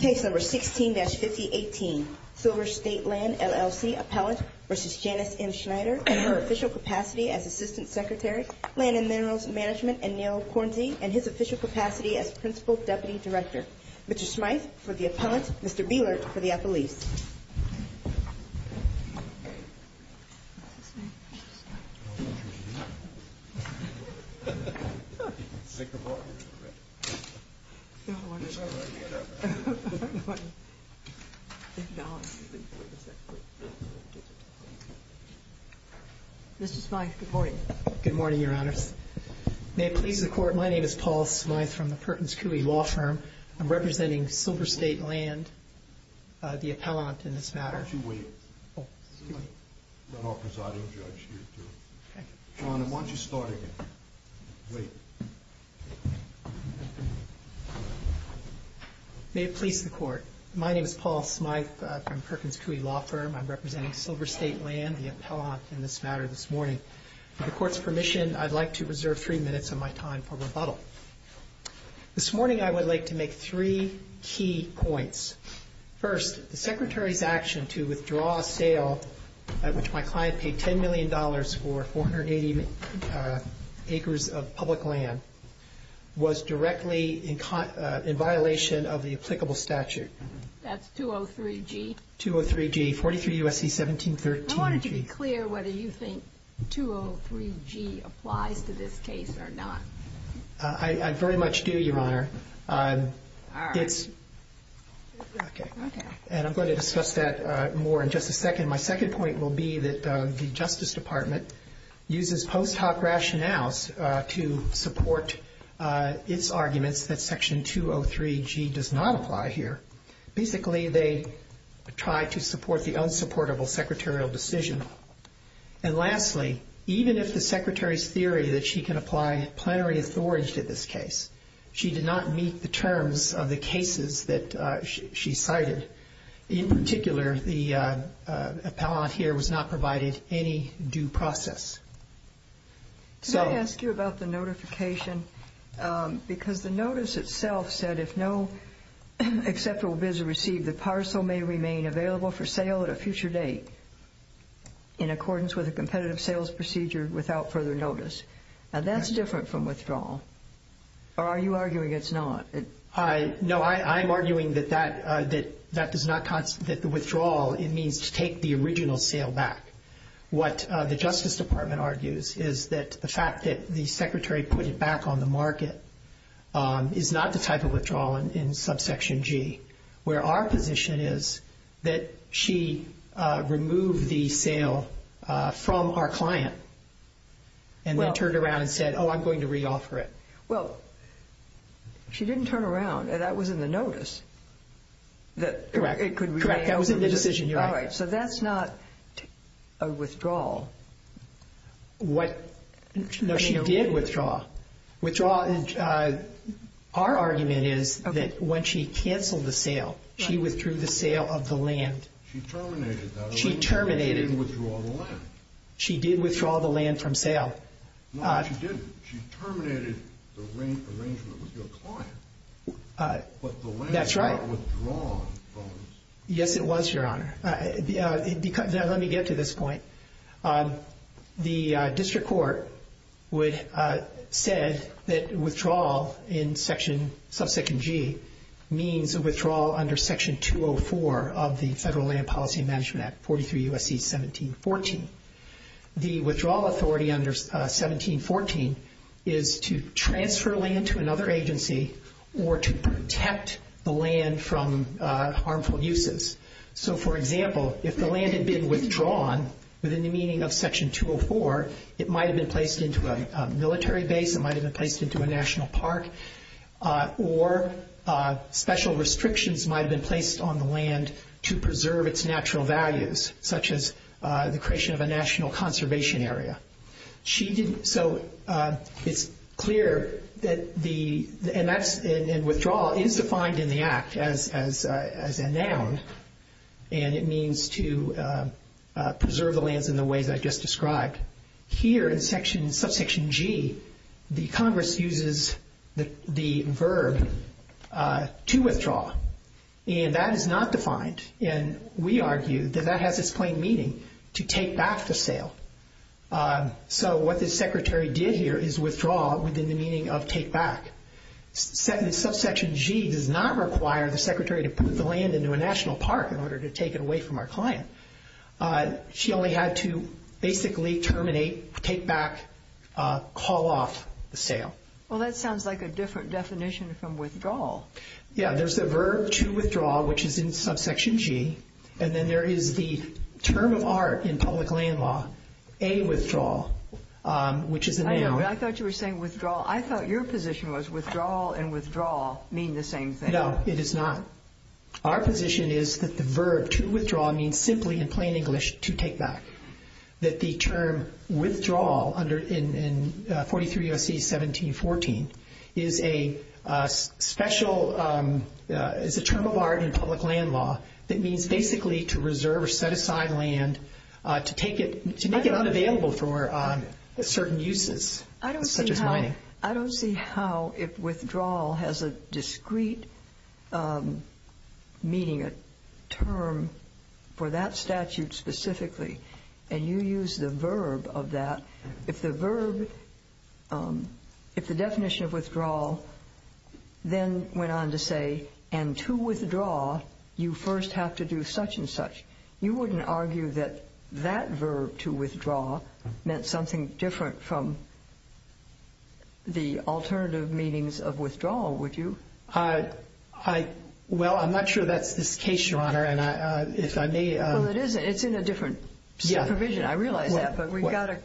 Case number 16-5018, Silver State Land, LLC, Appellant v. Janice M. Schneider and her official capacity as Assistant Secretary, Land and Minerals Management and Nail Quarantine and his official capacity as Principal Deputy Director. Mr. Smyth for the Appellant, Mr. Bielert for the Appellee. Mr. Smyth, good morning. Good morning, Your Honors. May it please the Court, my name is Paul Smyth from the Perkins Coie Law Firm. I'm representing Silver State Land, the Appellant in this matter. May it please the Court, my name is Paul Smyth from the Perkins Coie Law Firm. I'm representing Silver State Land, the Appellant in this matter this morning. With the Court's permission, I'd like to reserve three minutes of my time for rebuttal. This morning, I would like to make three key points. First, the Secretary's action to withdraw a sale at which my client paid $10 million for 480 acres of public land was directly in violation of the applicable statute. That's 203G? 203G, 43 U.S.C. 1713G. I wanted to be I very much do, Your Honor. And I'm going to discuss that more in just a second. My second point will be that the Justice Department uses post hoc rationales to support its arguments that Section 203G does not apply here. Basically, they try to support the unsupportable secretarial decision. And lastly, even if the Secretary's theory that she can apply is plenary authorized in this case, she did not meet the terms of the cases that she cited. In particular, the Appellant here was not provided any due process. Did I ask you about the notification? Because the notice itself said, if no acceptable bid is received, the parcel may remain available for sale at a future date in accordance with a competitive sales procedure without further notice. Now, that's different from withdrawal. Or are you arguing it's not? No, I'm arguing that that does not constitute the withdrawal. It means to take the original sale back. What the Justice Department argues is that the fact that the Secretary put it back on the market is not the type of withdrawal in Subsection G, where our position is that she removed the sale from our client and then turned around and said, oh, I'm going to reoffer it. Well, she didn't turn around. That was in the notice. Correct. That was in the decision. All right. So that's not a withdrawal. No, she did withdraw. Withdrawal, our argument is that when she canceled the sale, she withdrew the sale of the land. She terminated that arrangement. She didn't withdraw the land. She did withdraw the land from sale. No, she didn't. She terminated the arrangement with your client. That's right. But the land was not withdrawn. Yes, it was, Your Honor. Now, let me get to this point. The district court would have said that withdrawal in Subsection G means a withdrawal under Section 204 of the Federal Land Policy and Management Act, 43 U.S.C. 1714. The withdrawal authority under 1714 is to transfer land to another agency or to protect the land from harmful uses. So, for example, if the land had been withdrawn within the meaning of Section 204, it might have been placed into a military base, it might have been placed into a national park, or special restrictions might have been placed on the land to preserve its natural values, such as the creation of a national conservation area. It's clear that the withdrawal is defined in the Act as a noun, and it means to preserve the lands in the ways I just described. Here in Subsection G, the Congress uses the verb to withdraw, and that is not defined, and we argue that that has its plain meaning, to take back the sale. So what the Secretary did here is withdraw within the meaning of take back. Subsection G does not require the Secretary to put the land into a national park in order to take it away from our client. She only had to basically terminate, take back, call off the sale. Well, that sounds like a different definition from withdrawal. Yeah, there's the verb to withdraw, which is in Subsection G, and then there is the term of art in public land law, a withdrawal, which is a noun. I thought you were saying withdrawal. I thought your position was withdrawal and withdrawal mean the same thing. No, it is not. Our position is that the verb to withdraw means simply in plain English to take back, that the term withdrawal in 43 U.S.C. 1714 is a special, is a term of art in public land law that means basically to reserve or set aside land to make it unavailable for certain uses, such as mining. I don't see how withdrawal has a discrete meaning, a term for that statute specifically, and you use the verb of that. If the definition of withdrawal then went on to say, and to withdraw you first have to do such and such, you wouldn't argue that that verb to withdraw meant something different from the alternative meanings of withdrawal, would you? Well, I'm not sure that's the case, Your Honor, and if I may. Well, it isn't. It's in a different provision. I realize that, but we've got to.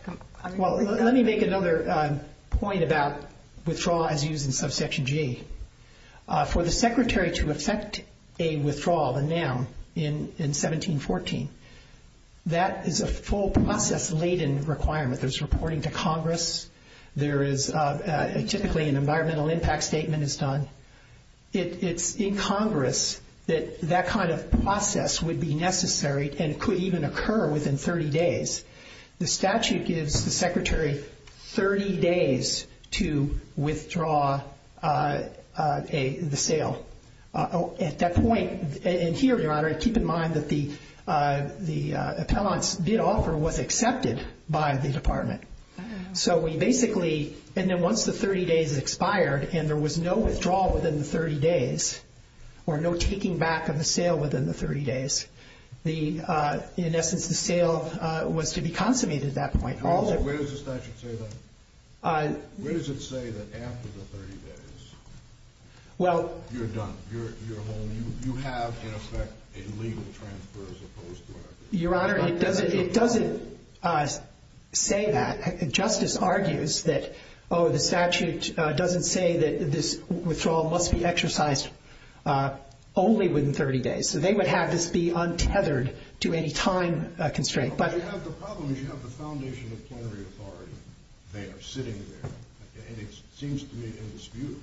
Well, let me make another point about withdrawal as used in Subsection G. For the secretary to effect a withdrawal, a noun, in 1714, that is a full process-laden requirement. There's reporting to Congress. Typically an environmental impact statement is done. It's in Congress that that kind of process would be necessary and could even occur within 30 days. The statute gives the secretary 30 days to withdraw the sale. At that point, and here, Your Honor, keep in mind that the appellant's bid offer was accepted by the department. So we basically, and then once the 30 days expired and there was no withdrawal within the 30 days or no taking back of the sale within the 30 days, in essence, the sale was to be consummated at that point. Where does the statute say that? Where does it say that after the 30 days, you're done? You're home. You have, in effect, a legal transfer as opposed to a... Your Honor, it doesn't say that. Justice argues that, oh, the statute doesn't say that this withdrawal must be exercised only within 30 days. So they would have this be untethered to any time constraint. But you have the problem is you have the foundation of plenary authority there, sitting there, and it seems to me indisputable.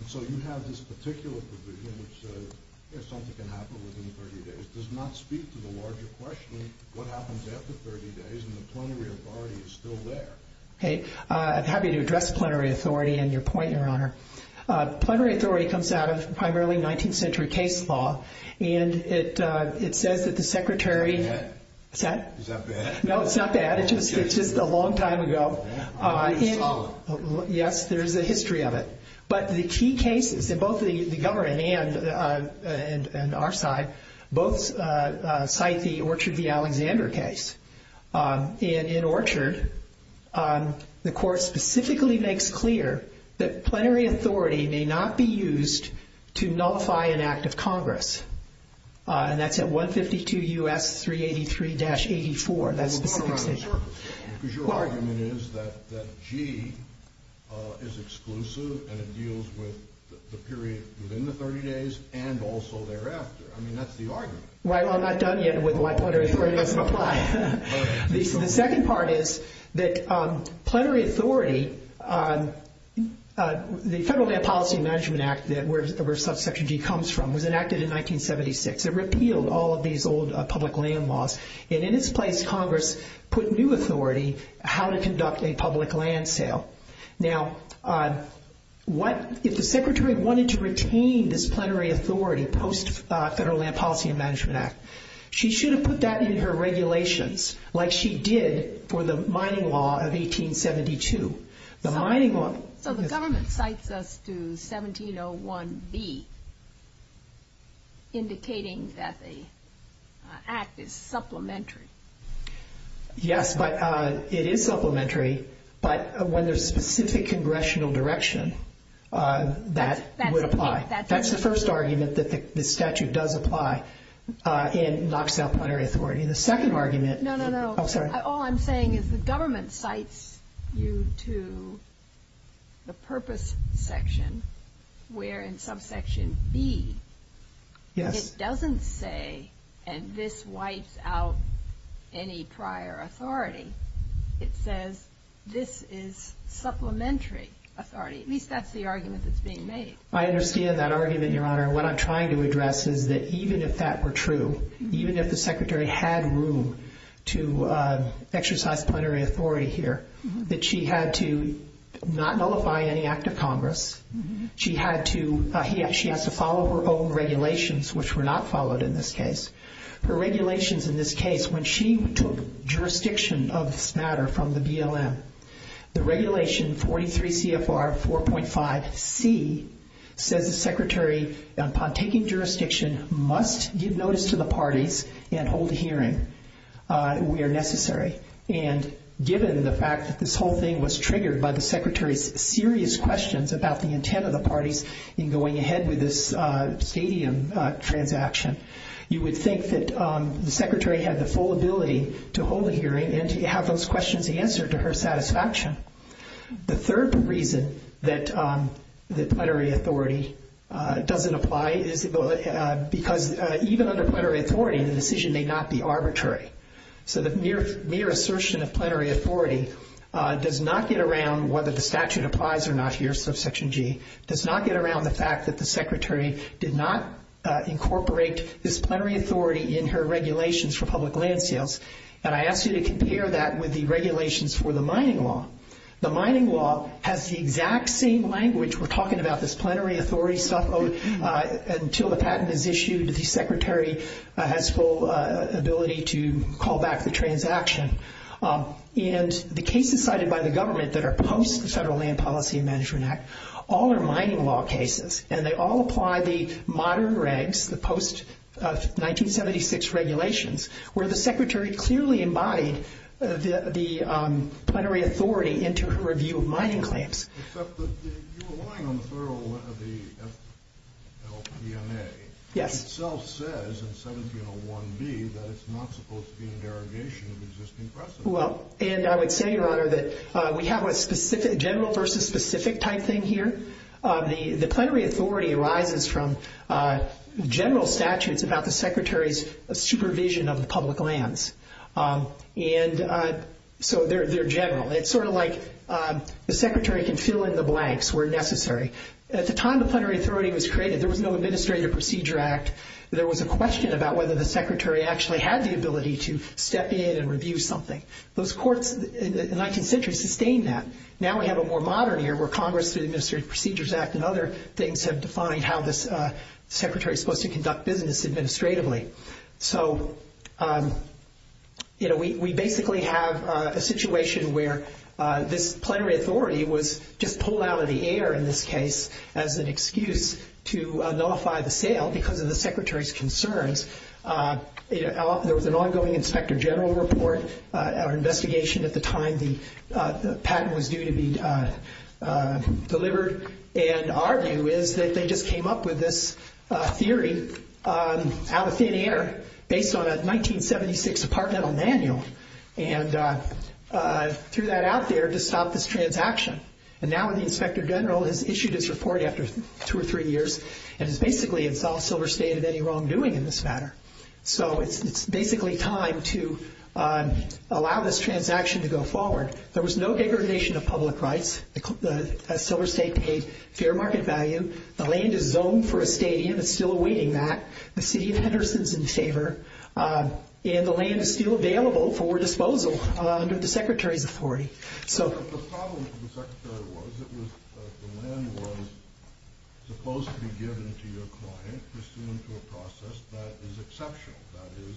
And so you have this particular provision which says, if something can happen within 30 days, does not speak to the larger question of what happens after 30 days and the plenary authority is still there. I'm happy to address plenary authority and your point, Your Honor. Plenary authority comes out of primarily 19th century case law, and it says that the secretary... Is that bad? Is that bad? No, it's not bad. It's just a long time ago. Yes, there's a history of it. But the key cases in both the government and our side both cite the Orchard v. Alexander case. And in Orchard, the court specifically makes clear that plenary authority may not be used to nullify an act of Congress. And that's at 152 U.S. 383-84. That's the specific statement. Because your argument is that G is exclusive and it deals with the period within the 30 days and also thereafter. I mean, that's the argument. Well, I'm not done yet with why plenary authority doesn't apply. The second part is that plenary authority, the Federal Land Policy and Management Act, where Section G comes from, was enacted in 1976. It repealed all of these old public land laws. And in its place, Congress put new authority how to conduct a public land sale. Now, if the secretary wanted to retain this plenary authority post-Federal Land Policy and Management Act, she should have put that in her regulations like she did for the mining law of 1872. The mining law... So the government cites us to 1701B, indicating that the act is supplementary. Yes, but it is supplementary. But when there's specific congressional direction, that would apply. That's the first argument, that the statute does apply and knocks out plenary authority. The second argument... No, no, no. I'm sorry. All I'm saying is the government cites you to the purpose section where in subsection B, it doesn't say, and this wipes out any prior authority. It says this is supplementary authority. At least that's the argument that's being made. I understand that argument, Your Honor. What I'm trying to address is that even if that were true, even if the secretary had room to exercise plenary authority here, that she had to not nullify any act of Congress. She has to follow her own regulations, which were not followed in this case. Her regulations in this case, when she took jurisdiction of this matter from the BLM, the regulation 43 CFR 4.5C says the secretary, upon taking jurisdiction, must give notice to the parties and hold a hearing where necessary. And given the fact that this whole thing was triggered by the secretary's serious questions about the intent of the parties in going ahead with this stadium transaction, you would think that the secretary had the full ability to hold a hearing and to have those questions answered to her satisfaction. The third reason that plenary authority doesn't apply is because even under plenary authority, the decision may not be arbitrary. So the mere assertion of plenary authority does not get around whether the statute applies or not here, subsection G, does not get around the fact that the secretary did not incorporate this plenary authority in her regulations for public land sales. And I ask you to compare that with the regulations for the mining law. The mining law has the exact same language. We're talking about this plenary authority stuff until the patent is issued, the secretary has full ability to call back the transaction. And the cases cited by the government that are post-Federal Land Policy and Management Act, all are mining law cases, and they all apply the modern regs, the post-1976 regulations, where the secretary clearly embodied the plenary authority into her review of mining claims. Except that you align on the thoroughness of the LPMA. Yes. Which itself says in 1701B that it's not supposed to be a derogation of existing precedent. Well, and I would say, Your Honor, that we have a general versus specific type thing here. The plenary authority arises from general statutes about the secretary's supervision of the public lands. And so they're general. It's sort of like the secretary can fill in the blanks where necessary. At the time the plenary authority was created, there was no Administrative Procedure Act. There was a question about whether the secretary actually had the ability to step in and review something. Those courts in the 19th century sustained that. Now we have a more modern era where Congress through the Administrative Procedures Act and other things have defined how the secretary is supposed to conduct business administratively. So we basically have a situation where this plenary authority was just pulled out of the air in this case as an excuse to nullify the sale because of the secretary's concerns. There was an ongoing Inspector General report or investigation at the time the patent was due to be delivered. And our view is that they just came up with this theory out of thin air based on a 1976 Apartment Manual and threw that out there to stop this transaction. And now the Inspector General has issued this report after two or three years and has basically installed Silver State in any wrongdoing in this matter. So it's basically time to allow this transaction to go forward. There was no degradation of public rights. Silver State paid fair market value. The land is zoned for a stadium. It's still awaiting that. The city of Henderson is in favor. And the land is still available for disposal under the secretary's authority. The problem for the secretary was that the land was supposed to be given to your client pursuant to a process that is exceptional. That is,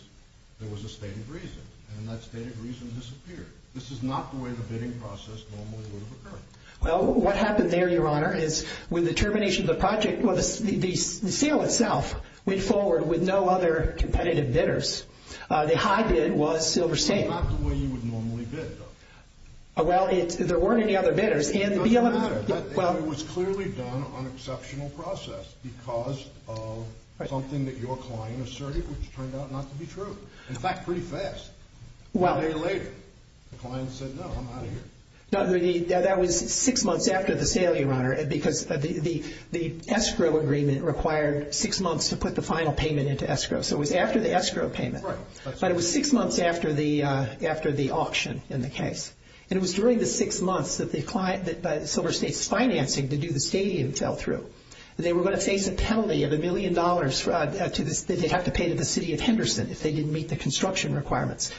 there was a stated reason. And that stated reason disappeared. This is not the way the bidding process normally would have occurred. Well, what happened there, Your Honor, is with the termination of the project, the sale itself went forward with no other competitive bidders. The high bid was Silver State. This is not the way you would normally bid, though. Well, there weren't any other bidders. It doesn't matter. It was clearly done on exceptional process because of something that your client asserted, which turned out not to be true. In fact, pretty fast. A day later, the client said, no, I'm out of here. That was six months after the sale, Your Honor, because the escrow agreement required six months to put the final payment into escrow. So it was after the escrow payment. Right. But it was six months after the auction in the case. And it was during the six months that Silver State's financing to do the stadium fell through. They were going to face a penalty of $1 million that they'd have to pay to the city of Henderson if they didn't meet the construction requirements.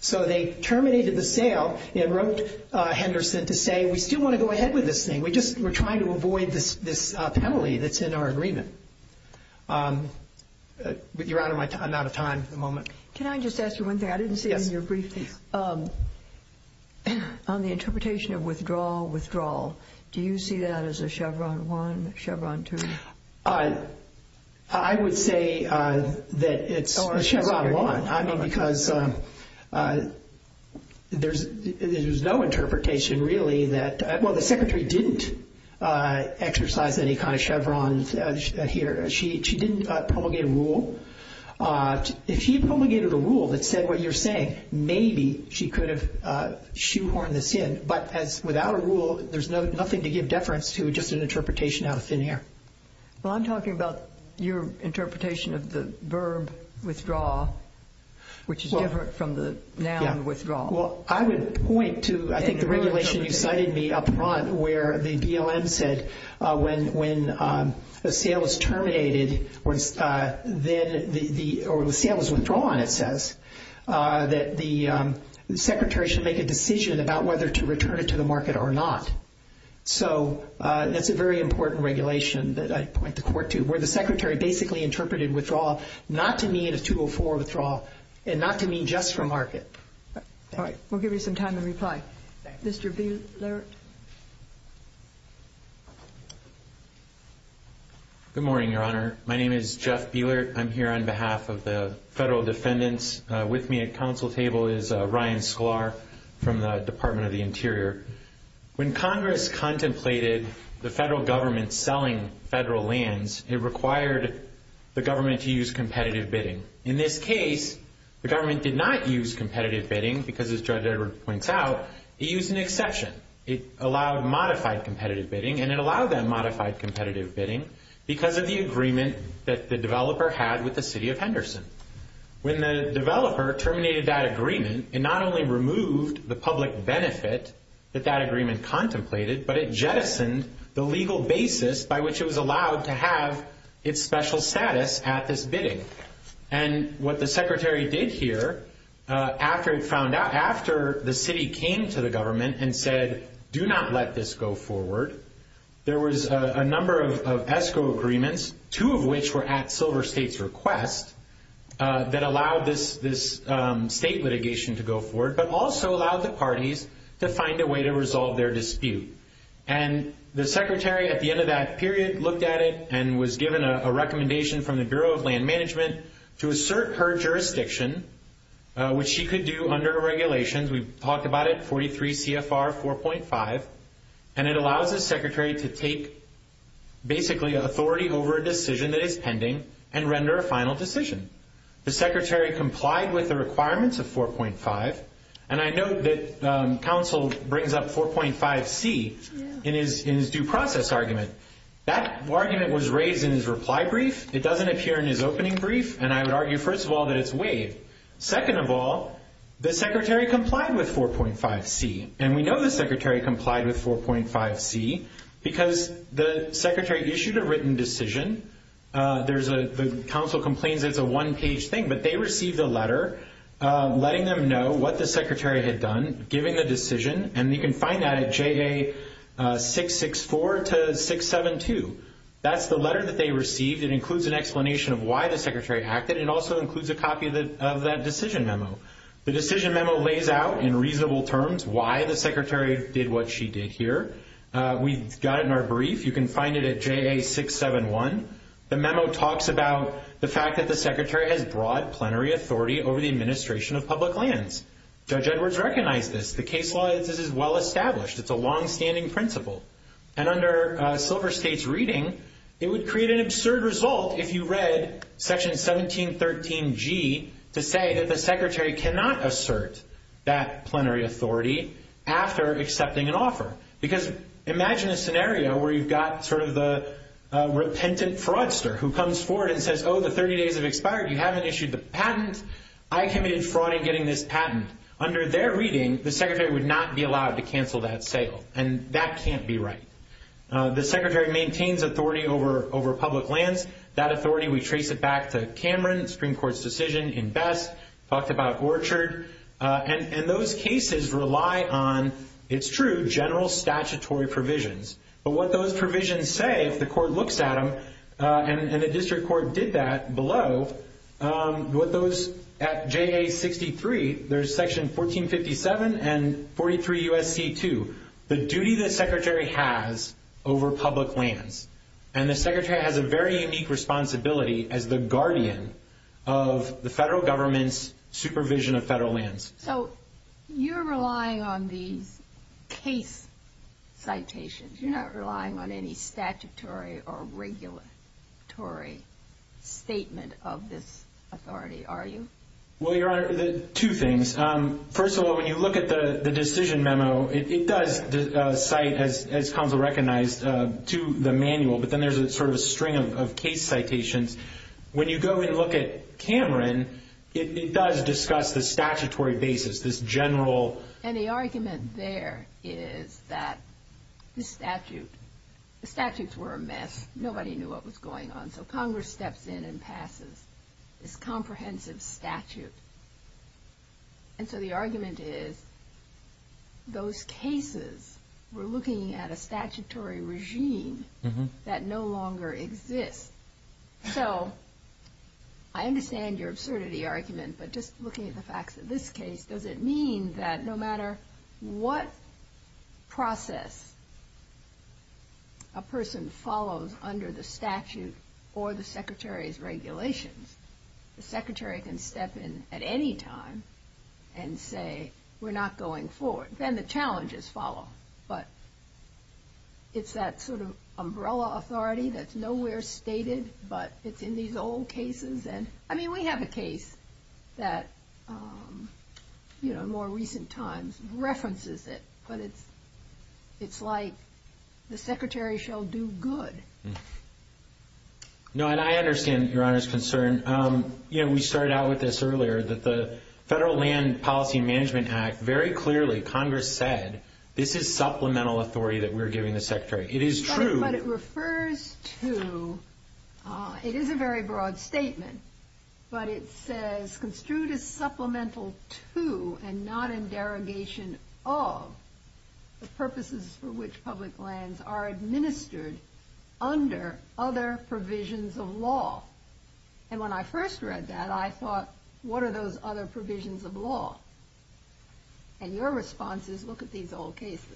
So they terminated the sale and wrote Henderson to say, we still want to go ahead with this thing. We're trying to avoid this penalty that's in our agreement. Your Honor, I'm out of time at the moment. Can I just ask you one thing? Yes. I didn't see it in your briefing. On the interpretation of withdrawal, withdrawal, do you see that as a Chevron 1, Chevron 2? I would say that it's a Chevron 1. I mean, because there's no interpretation really that – well, the Secretary didn't exercise any kind of Chevron here. She didn't promulgate a rule. If she promulgated a rule that said what you're saying, maybe she could have shoehorned this in. But without a rule, there's nothing to give deference to, just an interpretation out of thin air. Well, I'm talking about your interpretation of the verb withdraw, which is different from the noun withdraw. Well, I would point to, I think, the regulation you cited me up front, where the BLM said when the sale is terminated or the sale is withdrawn, it says, that the Secretary should make a decision about whether to return it to the market or not. So that's a very important regulation that I point the court to, where the Secretary basically interpreted withdrawal not to mean a 204 withdrawal and not to mean just for market. All right. We'll give you some time to reply. Thank you. Mr. Bielert. Good morning, Your Honor. My name is Jeff Bielert. I'm here on behalf of the federal defendants. With me at counsel table is Ryan Sklar from the Department of the Interior. When Congress contemplated the federal government selling federal lands, it required the government to use competitive bidding. In this case, the government did not use competitive bidding because, as Judge Edward points out, it used an exception. It allowed modified competitive bidding, and it allowed that modified competitive bidding because of the agreement that the developer had with the city of Henderson. When the developer terminated that agreement, it not only removed the public benefit that that agreement contemplated, but it jettisoned the legal basis by which it was allowed to have its special status at this bidding. And what the Secretary did here, after the city came to the government and said, do not let this go forward, there was a number of ESCO agreements, two of which were at Silver State's request, that allowed this state litigation to go forward, but also allowed the parties to find a way to resolve their dispute. And the Secretary, at the end of that period, looked at it and was given a recommendation from the Bureau of Land Management to assert her jurisdiction, which she could do under regulations. We've talked about it, 43 CFR 4.5. And it allows the Secretary to take basically authority over a decision that is pending and render a final decision. The Secretary complied with the requirements of 4.5. And I note that counsel brings up 4.5C in his due process argument. That argument was raised in his reply brief. It doesn't appear in his opening brief. And I would argue, first of all, that it's waived. Second of all, the Secretary complied with 4.5C. And we know the Secretary complied with 4.5C because the Secretary issued a written decision. The counsel complains it's a one-page thing, but they received a letter letting them know what the Secretary had done, giving the decision. And you can find that at JA664 to 672. That's the letter that they received. It includes an explanation of why the Secretary acted. It also includes a copy of that decision memo. The decision memo lays out, in reasonable terms, why the Secretary did what she did here. We've got it in our brief. You can find it at JA671. The memo talks about the fact that the Secretary has broad plenary authority over the administration of public lands. Judge Edwards recognized this. The case law is well-established. It's a longstanding principle. And under Silver State's reading, it would create an absurd result if you read Section 1713G Because imagine a scenario where you've got sort of the repentant fraudster who comes forward and says, oh, the 30 days have expired. You haven't issued the patent. I committed fraud in getting this patent. Under their reading, the Secretary would not be allowed to cancel that sale. And that can't be right. The Secretary maintains authority over public lands. That authority, we trace it back to Cameron, Supreme Court's decision in Best, talked about Orchard. And those cases rely on, it's true, general statutory provisions. But what those provisions say, if the court looks at them, and the district court did that below, at JA63, there's Section 1457 and 43 U.S.C. 2. The duty the Secretary has over public lands. And the Secretary has a very unique responsibility as the guardian of the federal government's supervision of federal lands. So you're relying on these case citations. You're not relying on any statutory or regulatory statement of this authority, are you? Well, Your Honor, two things. First of all, when you look at the decision memo, it does cite, as counsel recognized, to the manual. But then there's sort of a string of case citations. When you go and look at Cameron, it does discuss the statutory basis, this general. And the argument there is that the statute, the statutes were a mess. Nobody knew what was going on. So Congress steps in and passes this comprehensive statute. And so the argument is those cases were looking at a statutory regime that no longer exists. So I understand your absurdity argument, but just looking at the facts of this case, does it mean that no matter what process a person follows under the statute or the Secretary's regulations, the Secretary can step in at any time and say, we're not going forward. Then the challenges follow. But it's that sort of umbrella authority that's nowhere stated, but it's in these old cases. And, I mean, we have a case that, in more recent times, references it. But it's like the Secretary shall do good. No, and I understand Your Honor's concern. We started out with this earlier, that the Federal Land Policy and Management Act, very clearly Congress said this is supplemental authority that we're giving the Secretary. It is true. But it refers to, it is a very broad statement, but it says construed as supplemental to and not in derogation of the purposes for which public lands are administered under other provisions of law. And when I first read that, I thought, what are those other provisions of law? And your response is, look at these old cases.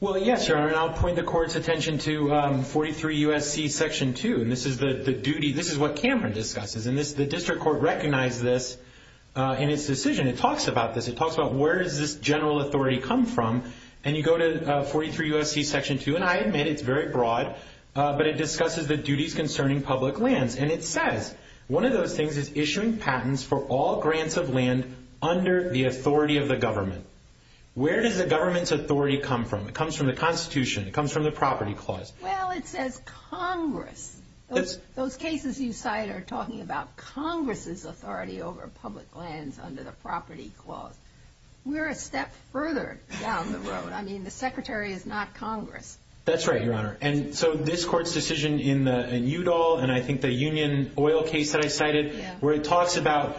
Well, yes, Your Honor, and I'll point the Court's attention to 43 U.S.C. Section 2. And this is the duty, this is what Cameron discusses. And the District Court recognized this in its decision. It talks about this. It talks about where does this general authority come from. And you go to 43 U.S.C. Section 2, and I admit it's very broad, but it discusses the duties concerning public lands. And it says one of those things is issuing patents for all grants of land under the authority of the government. Where does the government's authority come from? It comes from the Constitution. It comes from the Property Clause. Well, it says Congress. Those cases you cite are talking about Congress's authority over public lands under the Property Clause. We're a step further down the road. I mean, the Secretary is not Congress. That's right, Your Honor. And so this Court's decision in Udall, and I think the Union Oil case that I cited, where it talks about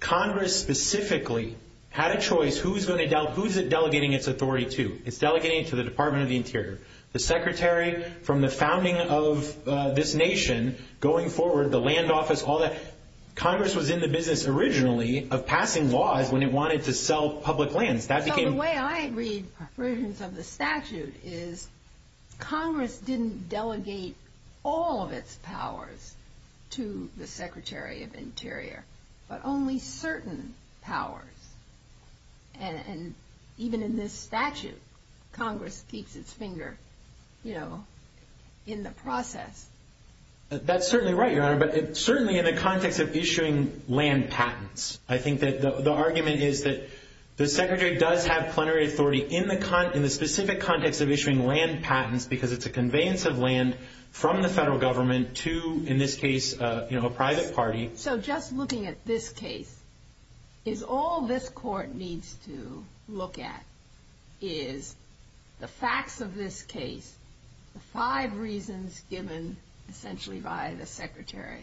Congress specifically had a choice. Who is it delegating its authority to? It's delegating it to the Department of the Interior. The Secretary from the founding of this nation going forward, the land office, all that. Congress was in the business originally of passing laws when it wanted to sell public lands. So the way I read versions of the statute is Congress didn't delegate all of its powers to the Secretary of Interior, but only certain powers. And even in this statute, Congress keeps its finger, you know, in the process. That's certainly right, Your Honor, but certainly in the context of issuing land patents. I think that the argument is that the Secretary does have plenary authority in the specific context of issuing land patents because it's a conveyance of land from the federal government to, in this case, you know, a private party. So just looking at this case, is all this Court needs to look at is the facts of this case, the five reasons given essentially by the Secretary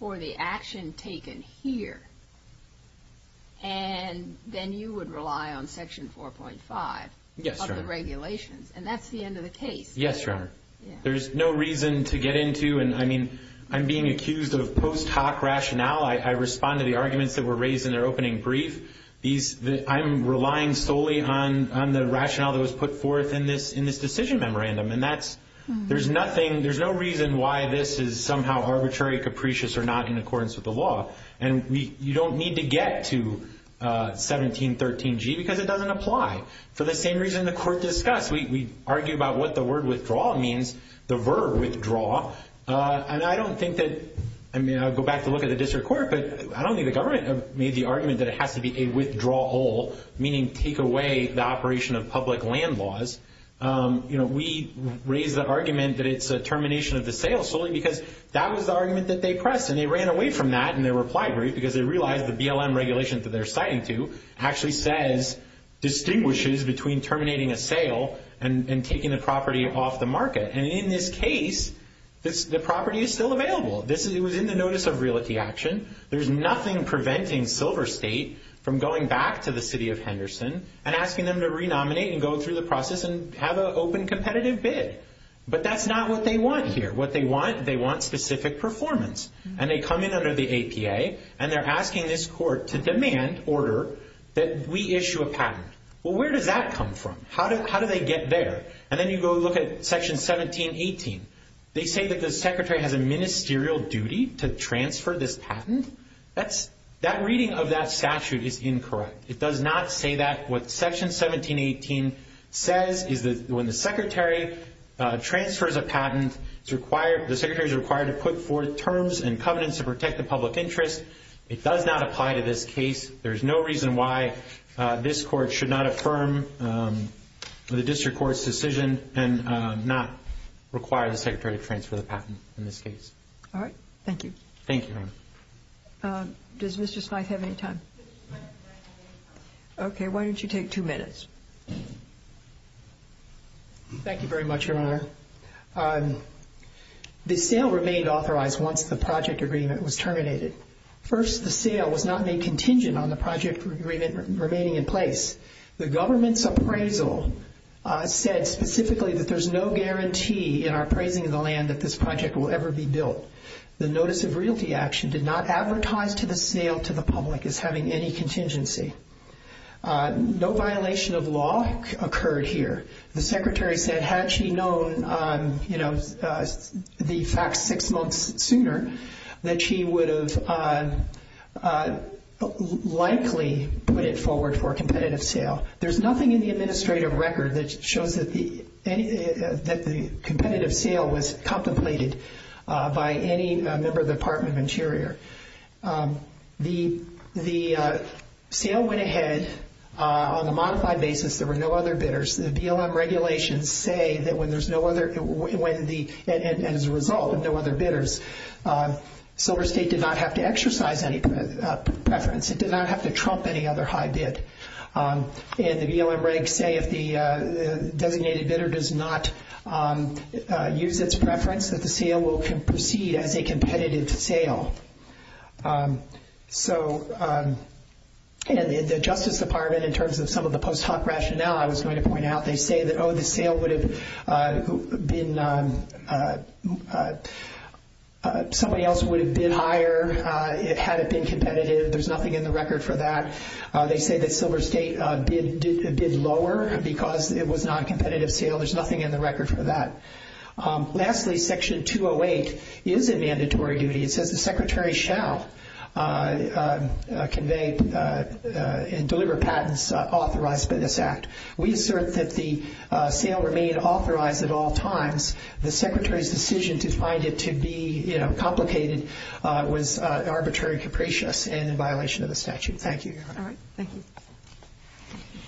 for the action taken here, and then you would rely on Section 4.5 of the regulations. Yes, Your Honor. And that's the end of the case. Yes, Your Honor. There's no reason to get into, and I mean, I'm being accused of post hoc rationale. I respond to the arguments that were raised in their opening brief. I'm relying solely on the rationale that was put forth in this decision memorandum, and that's, there's nothing, there's no reason why this is somehow arbitrary, capricious, or not in accordance with the law. And you don't need to get to 1713G because it doesn't apply. For the same reason the Court discussed, we argue about what the word withdraw means, the verb withdraw, and I don't think that, I mean, I'll go back to look at the district court, but I don't think the government made the argument that it has to be a withdrawal, meaning take away the operation of public land laws. You know, we raised the argument that it's a termination of the sale solely because that was the argument that they pressed, and they ran away from that in their reply brief because they realized the BLM regulations that they're citing to actually says, distinguishes between terminating a sale and taking the property off the market. And in this case, the property is still available. It was in the notice of realty action. There's nothing preventing Silver State from going back to the city of Henderson and asking them to renominate and go through the process and have an open competitive bid. But that's not what they want here. What they want, they want specific performance, and they come in under the APA, and they're asking this court to demand order that we issue a patent. Well, where does that come from? How do they get there? And then you go look at Section 1718. They say that the secretary has a ministerial duty to transfer this patent. That reading of that statute is incorrect. It does not say that. What Section 1718 says is that when the secretary transfers a patent, the secretary is required to put forth terms and covenants to protect the public interest. It does not apply to this case. There's no reason why this court should not affirm the district court's decision and not require the secretary to transfer the patent in this case. All right. Thank you. Thank you, Your Honor. Does Mr. Smythe have any time? Okay. Why don't you take two minutes? Thank you very much, Your Honor. The sale remained authorized once the project agreement was terminated. First, the sale was not made contingent on the project agreement remaining in place. The government's appraisal said specifically that there's no guarantee in our appraising of the land that this project will ever be built. The notice of realty action did not advertise to the sale to the public as having any contingency. No violation of law occurred here. The secretary said had she known the facts six months sooner, that she would have likely put it forward for a competitive sale. There's nothing in the administrative record that shows that the competitive sale was contemplated by any member of the Department of Interior. The sale went ahead on a modified basis. There were no other bidders. The BLM regulations say that when there's no other, and as a result of no other bidders, Silver State did not have to exercise any preference. It did not have to trump any other high bid. And the BLM regs say if the designated bidder does not use its preference, that the sale will proceed as a competitive sale. So the Justice Department, in terms of some of the post hoc rationale I was going to point out, they say that, oh, the sale would have been, somebody else would have bid higher had it been competitive. There's nothing in the record for that. They say that Silver State bid lower because it was not a competitive sale. There's nothing in the record for that. Lastly, Section 208 is a mandatory duty. It says the Secretary shall convey and deliver patents authorized by this Act. We assert that the sale remain authorized at all times. The Secretary's decision to find it to be complicated was arbitrary and capricious and in violation of the statute. Thank you, Your Honor. All right. Thank you.